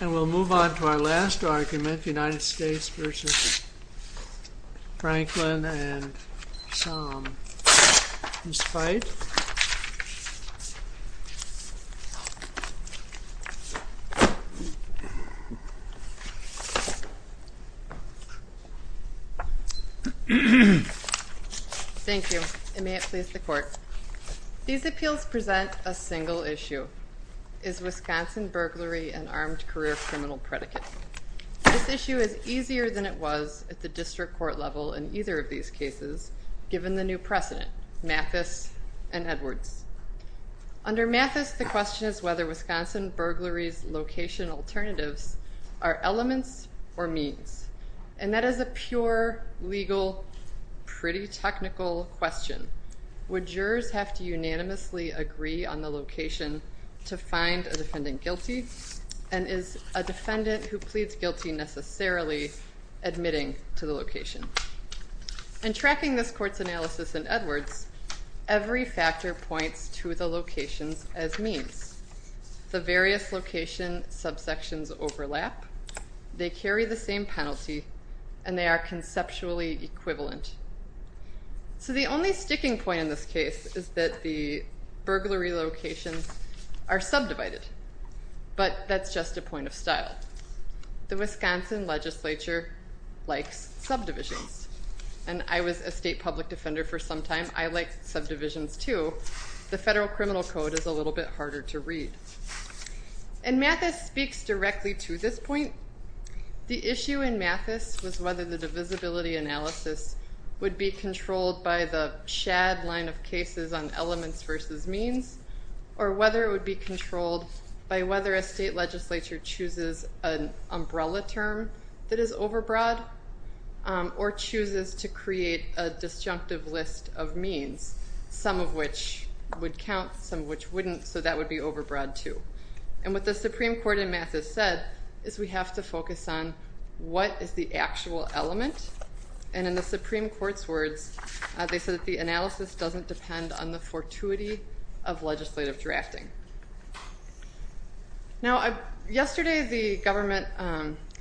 And we'll move on to our last argument, United States v. Franklin and his fight. Thank you, and may it please the court. These appeals present a single issue. Is Wisconsin burglary an armed career criminal predicate? This issue is easier than it was at the district court level in either of these cases, given the new precedent, Mathis and Edwards. Under Mathis, the question is whether Wisconsin burglary's location alternatives are elements or means. And that is a pure, legal, pretty technical question. Would jurors have to unanimously agree on the location to find a defendant guilty? And is a defendant who pleads guilty necessarily admitting to the location? In tracking this court's analysis in Edwards, every factor points to the locations as means. The various location subsections overlap, they carry the same penalty, and they are conceptually equivalent. So the only sticking point in this case is that the burglary locations are subdivided. But that's just a point of style. The Wisconsin legislature likes subdivisions. And I was a state public defender for some time. I like subdivisions too. The federal criminal code is a little bit harder to read. And Mathis speaks directly to this point. The issue in Mathis was whether the divisibility analysis would be controlled by the Shad line of cases on elements versus means, or whether it would be controlled by whether a state legislature chooses an umbrella term that is overbroad, or chooses to create a disjunctive list of means, some of which would count, some of which wouldn't, so that would be overbroad too. And what the Supreme Court in Mathis said is we have to focus on what is the actual element. And in the Supreme Court's words, they said that the analysis doesn't depend on the fortuity of legislative drafting. Now yesterday the government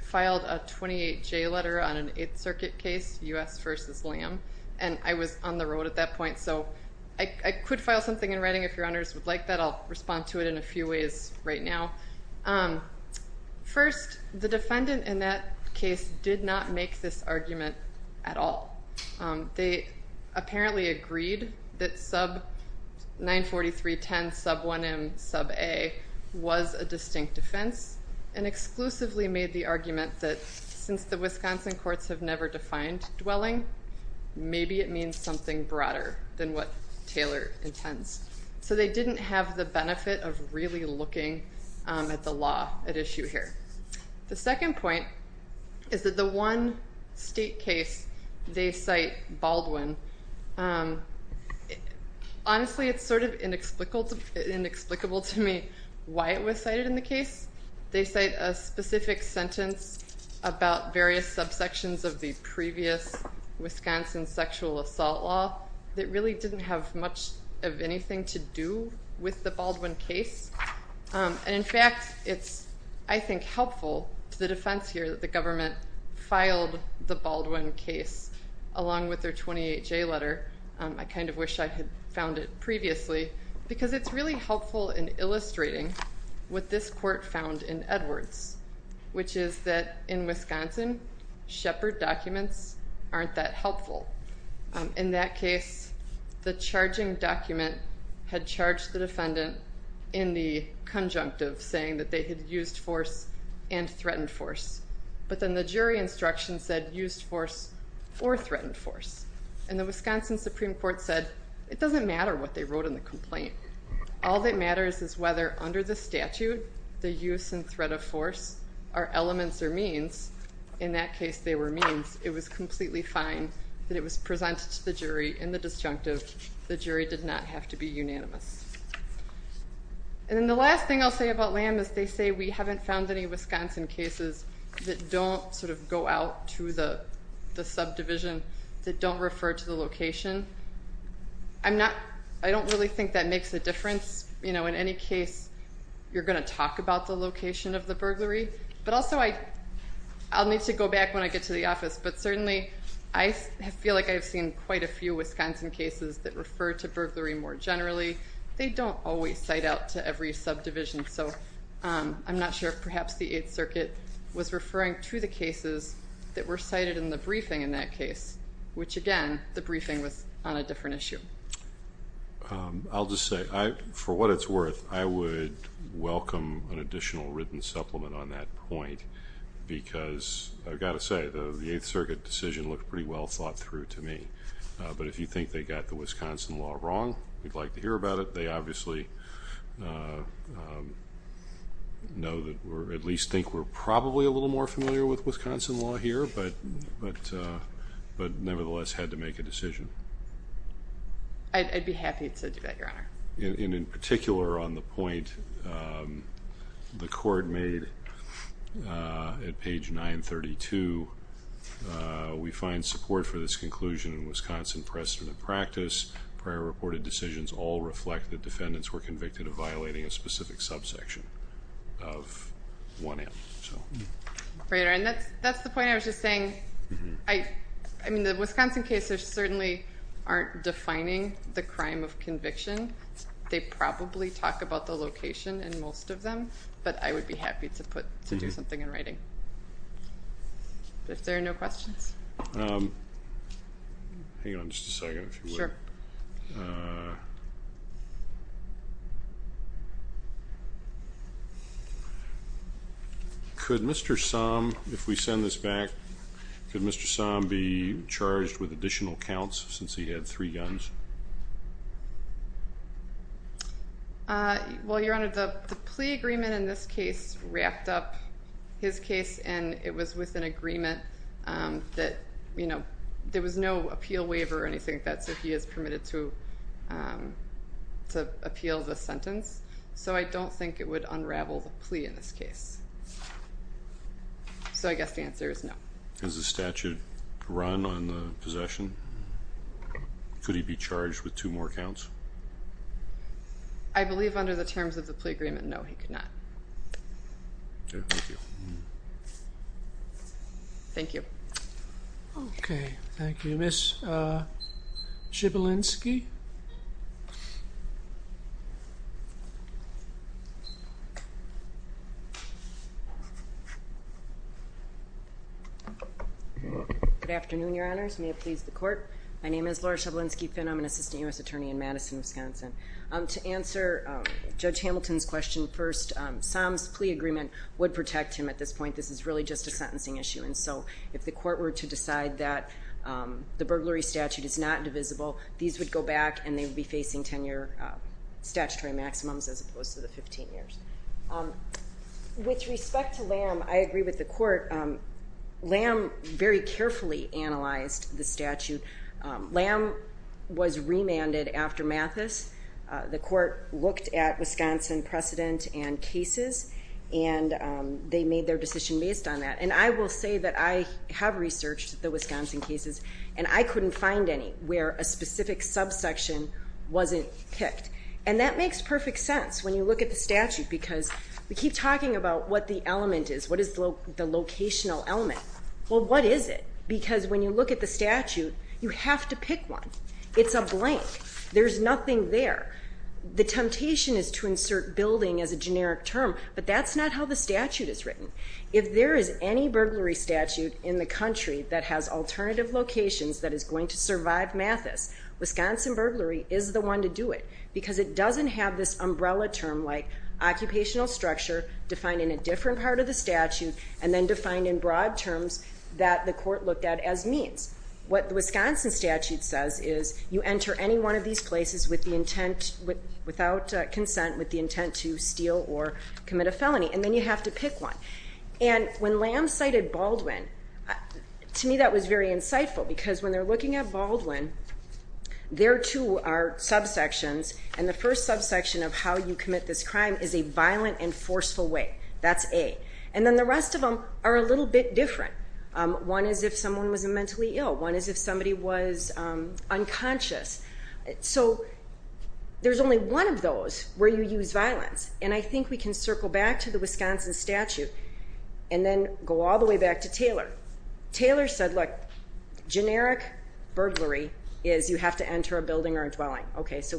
filed a 28-J letter on an Eighth Circuit case, U.S. v. Liam. And I was on the road at that point, so I could file something in writing if your honors would like that. I'll respond to it in a few ways right now. First, the defendant in that case did not make this argument at all. They apparently agreed that sub 943.10 sub 1M sub A was a distinct offense, and exclusively made the argument that since the Wisconsin courts have never defined dwelling, maybe it means something broader than what Taylor intends. So they didn't have the benefit of really looking at the law at issue here. The second point is that the one state case they cite, Baldwin, honestly it's sort of inexplicable to me why it was cited in the case. They cite a specific sentence about various subsections of the previous Wisconsin sexual assault law that really didn't have much of anything to do with the Baldwin case. And, in fact, it's, I think, helpful to the defense here that the government filed the Baldwin case along with their 28-J letter. I kind of wish I had found it previously, because it's really helpful in illustrating what this court found in Edwards, which is that in Wisconsin, Shepard documents aren't that helpful. In that case, the charging document had charged the defendant in the conjunctive, saying that they had used force and threatened force. But then the jury instruction said used force or threatened force. And the Wisconsin Supreme Court said it doesn't matter what they wrote in the complaint. All that matters is whether under the statute the use and threat of force are elements or means. In that case, they were means. It was completely fine that it was presented to the jury in the disjunctive. The jury did not have to be unanimous. And then the last thing I'll say about Lamb is they say we haven't found any Wisconsin cases that don't sort of go out to the subdivision, that don't refer to the location. I don't really think that makes a difference. In any case, you're going to talk about the location of the burglary. But also I'll need to go back when I get to the office, but certainly I feel like I've seen quite a few Wisconsin cases that refer to burglary more generally. They don't always cite out to every subdivision. So I'm not sure if perhaps the Eighth Circuit was referring to the cases that were cited in the briefing in that case, which, again, the briefing was on a different issue. I'll just say, for what it's worth, I would welcome an additional written supplement on that point because I've got to say the Eighth Circuit decision looked pretty well thought through to me. But if you think they got the Wisconsin law wrong, we'd like to hear about it. They obviously know that we're at least think we're probably a little more familiar with Wisconsin law here, but nevertheless had to make a decision. I'd be happy to do that, Your Honor. And in particular on the point the court made at page 932, we find support for this conclusion in Wisconsin precedent practice. Prior reported decisions all reflect that defendants were convicted of violating a specific subsection of 1M. Right, and that's the point I was just saying. I mean, the Wisconsin cases certainly aren't defining the crime of conviction. They probably talk about the location in most of them, but I would be happy to do something in writing. If there are no questions. Hang on just a second, if you would. Sure. Could Mr. Somm, if we send this back, could Mr. Somm be charged with additional counts since he had three guns? Well, Your Honor, the plea agreement in this case wrapped up his case, and it was with an agreement that, you know, there was no appeal waiver or anything. That's if he is permitted to appeal the sentence. So I don't think it would unravel the plea in this case. So I guess the answer is no. Does the statute run on the possession? Could he be charged with two more counts? I believe under the terms of the plea agreement, no, he could not. Okay, thank you. Thank you. Okay, thank you. Ms. Schiebelinski? Good afternoon, Your Honors. May it please the Court. My name is Laura Schiebelinski-Finn. I'm an assistant U.S. attorney in Madison, Wisconsin. To answer Judge Hamilton's question first, Somm's plea agreement would protect him at this point. This is really just a sentencing issue. And so if the Court were to decide that the burglary statute is not divisible, these would go back and they would be facing 10-year statutory maximums as opposed to the 15 years. With respect to Lamb, I agree with the Court. Lamb very carefully analyzed the statute. Lamb was remanded after Mathis. The Court looked at Wisconsin precedent and cases and they made their decision based on that. And I will say that I have researched the Wisconsin cases and I couldn't find any where a specific subsection wasn't picked. And that makes perfect sense when you look at the statute because we keep talking about what the element is, what is the locational element. Well, what is it? Because when you look at the statute, you have to pick one. It's a blank. There's nothing there. The temptation is to insert building as a generic term, but that's not how the statute is written. If there is any burglary statute in the country that has alternative locations that is going to survive Mathis, Wisconsin burglary is the one to do it because it doesn't have this umbrella term like occupational structure defined in a different part of the statute and then defined in broad terms that the Court looked at as means. What the Wisconsin statute says is you enter any one of these places without consent with the intent to steal or commit a felony and then you have to pick one. And when Lamb cited Baldwin, to me that was very insightful because when they're looking at Baldwin, there too are subsections and the first subsection of how you commit this crime is a violent and forceful way. That's A. And then the rest of them are a little bit different. One is if someone was mentally ill. One is if somebody was unconscious. So there's only one of those where you use violence, and I think we can circle back to the Wisconsin statute and then go all the way back to Taylor. Taylor said, look, generic burglary is you have to enter a building or a dwelling. Okay, so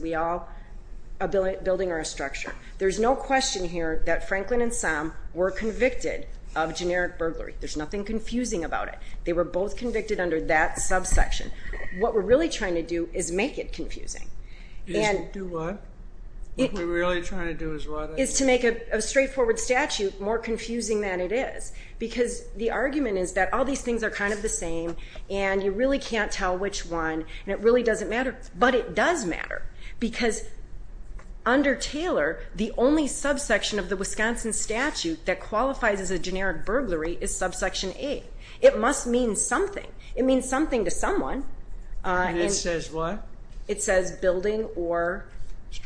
a building or a structure. There's no question here that Franklin and Somm were convicted of generic burglary. There's nothing confusing about it. They were both convicted under that subsection. What we're really trying to do is make it confusing. Do what? What we're really trying to do is what? Is to make a straightforward statute more confusing than it is because the argument is that all these things are kind of the same and you really can't tell which one and it really doesn't matter. But it does matter because under Taylor, the only subsection of the Wisconsin statute that qualifies as a generic burglary is subsection A. It must mean something. It means something to someone. It says what? It says building or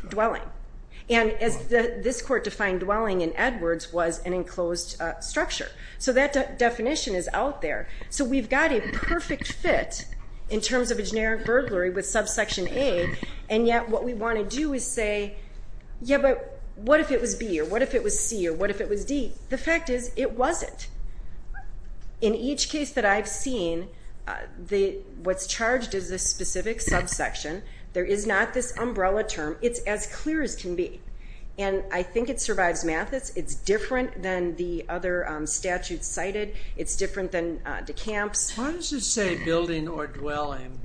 dwelling. And as this court defined dwelling in Edwards was an enclosed structure. So that definition is out there. So we've got a perfect fit in terms of a generic burglary with subsection A, and yet what we want to do is say, yeah, but what if it was B or what if it was C or what if it was D? The fact is it wasn't. In each case that I've seen, what's charged is a specific subsection. There is not this umbrella term. It's as clear as can be. And I think it survives Mathis. It's different than the other statutes cited. It's different than DeCamps. Why does it say building or dwelling?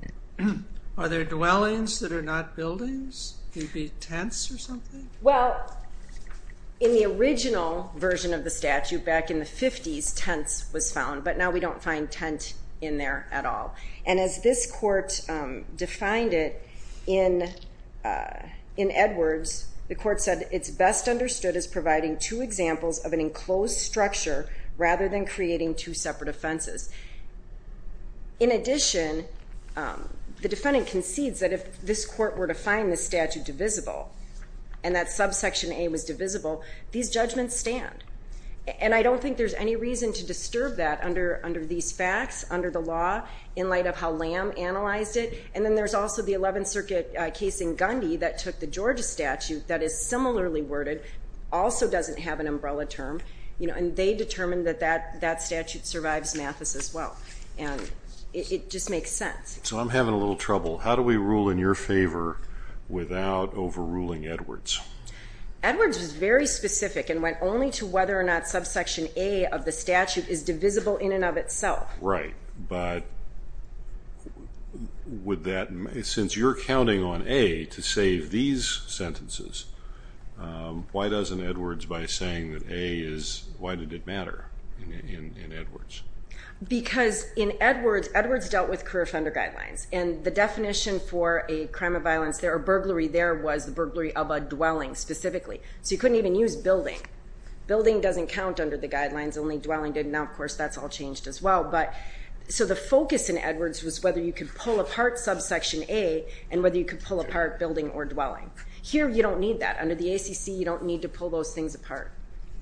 Are there dwellings that are not buildings? Could it be tents or something? Well, in the original version of the statute back in the 50s, tents was found, but now we don't find tent in there at all. And as this court defined it in Edwards, the court said it's best understood as providing two examples of an enclosed structure rather than creating two separate offenses. In addition, the defendant concedes that if this court were to find this and that subsection A was divisible, these judgments stand. And I don't think there's any reason to disturb that under these facts, under the law, in light of how Lamb analyzed it. And then there's also the 11th Circuit case in Gandhi that took the Georgia statute that is similarly worded, also doesn't have an umbrella term, and they determined that that statute survives Mathis as well. And it just makes sense. So I'm having a little trouble. How do we rule in your favor without overruling Edwards? Edwards was very specific and went only to whether or not subsection A of the statute is divisible in and of itself. Right. But since you're counting on A to save these sentences, why doesn't Edwards, by saying that A is, why did it matter in Edwards? Because in Edwards, Edwards dealt with career offender guidelines, and the definition for a crime of violence there, or burglary there was the burglary of a dwelling specifically. So you couldn't even use building. Building doesn't count under the guidelines, only dwelling did. Now, of course, that's all changed as well. So the focus in Edwards was whether you could pull apart subsection A and whether you could pull apart building or dwelling. Here you don't need that. Under the ACC, you don't need to pull those things apart.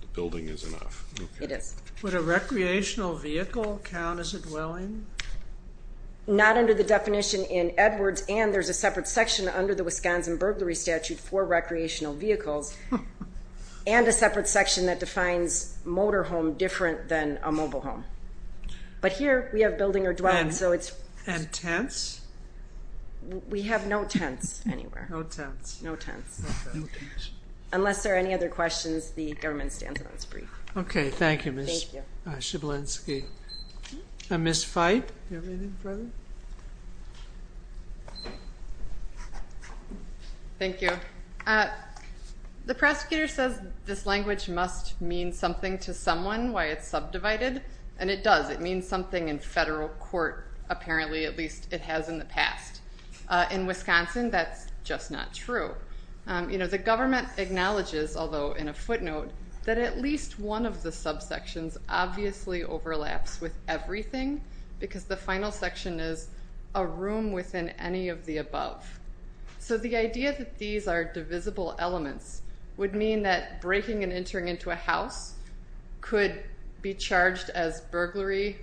The building is enough. It is. Would a recreational vehicle count as a dwelling? Not under the definition in Edwards, and there's a separate section under the Wisconsin burglary statute for recreational vehicles, and a separate section that defines motor home different than a mobile home. But here we have building or dwelling, so it's. And tents? We have no tents anywhere. No tents. No tents. No tents. Unless there are any other questions, the government stands on its brief. Okay. Thank you, Ms. Schiblinski. Ms. Feit, do you have anything further? Thank you. The prosecutor says this language must mean something to someone, why it's subdivided, and it does. It means something in federal court, apparently, at least it has in the past. In Wisconsin, that's just not true. You know, the government acknowledges, although in a footnote, that at least one of the subsections obviously overlaps with everything because the final section is a room within any of the above. So the idea that these are divisible elements would mean that breaking and entering into a house could be charged as burglary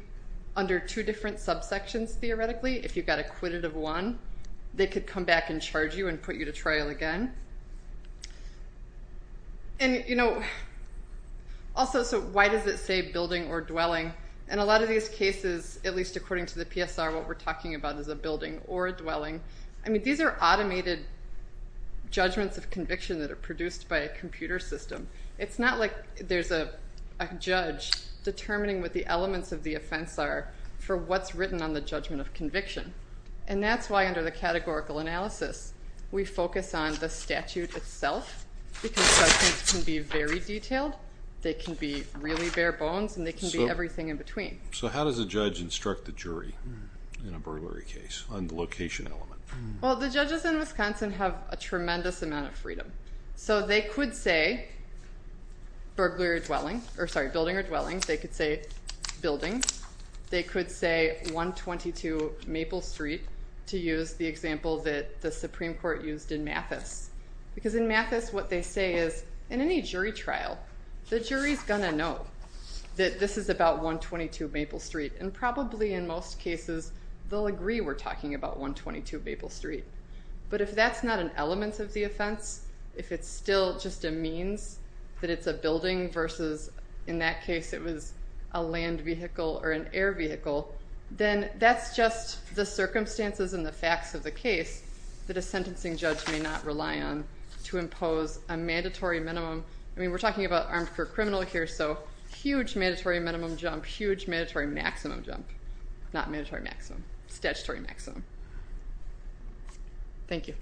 under two different subsections, theoretically. If you got acquitted of one, they could come back and charge you and put you to trial again. And, you know, also, so why does it say building or dwelling? In a lot of these cases, at least according to the PSR, what we're talking about is a building or a dwelling. I mean, these are automated judgments of conviction that are produced by a computer system. It's not like there's a judge determining what the elements of the offense are for what's written on the judgment of conviction. And that's why under the categorical analysis, we focus on the statute itself because judgments can be very detailed, they can be really bare bones, and they can be everything in between. So how does a judge instruct the jury in a burglary case on the location element? Well, the judges in Wisconsin have a tremendous amount of freedom. So they could say building or dwelling. They could say building. I'm going to use Maple Street to use the example that the Supreme Court used in Mathis. Because in Mathis, what they say is, in any jury trial, the jury is going to know that this is about 122 Maple Street. And probably in most cases, they'll agree we're talking about 122 Maple Street. But if that's not an element of the offense, if it's still just a means that it's a building versus, in that case, it was a land vehicle or an air vehicle, then that's just the circumstances and the facts of the case that a sentencing judge may not rely on to impose a mandatory minimum. I mean, we're talking about armed for criminal here, so huge mandatory minimum jump, huge mandatory maximum jump. Not mandatory maximum. Statutory maximum. Thank you.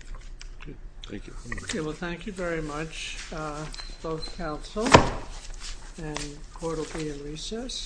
Thank you. Okay, well, thank you very much, both counsel. And the court will be in recess. Thank you.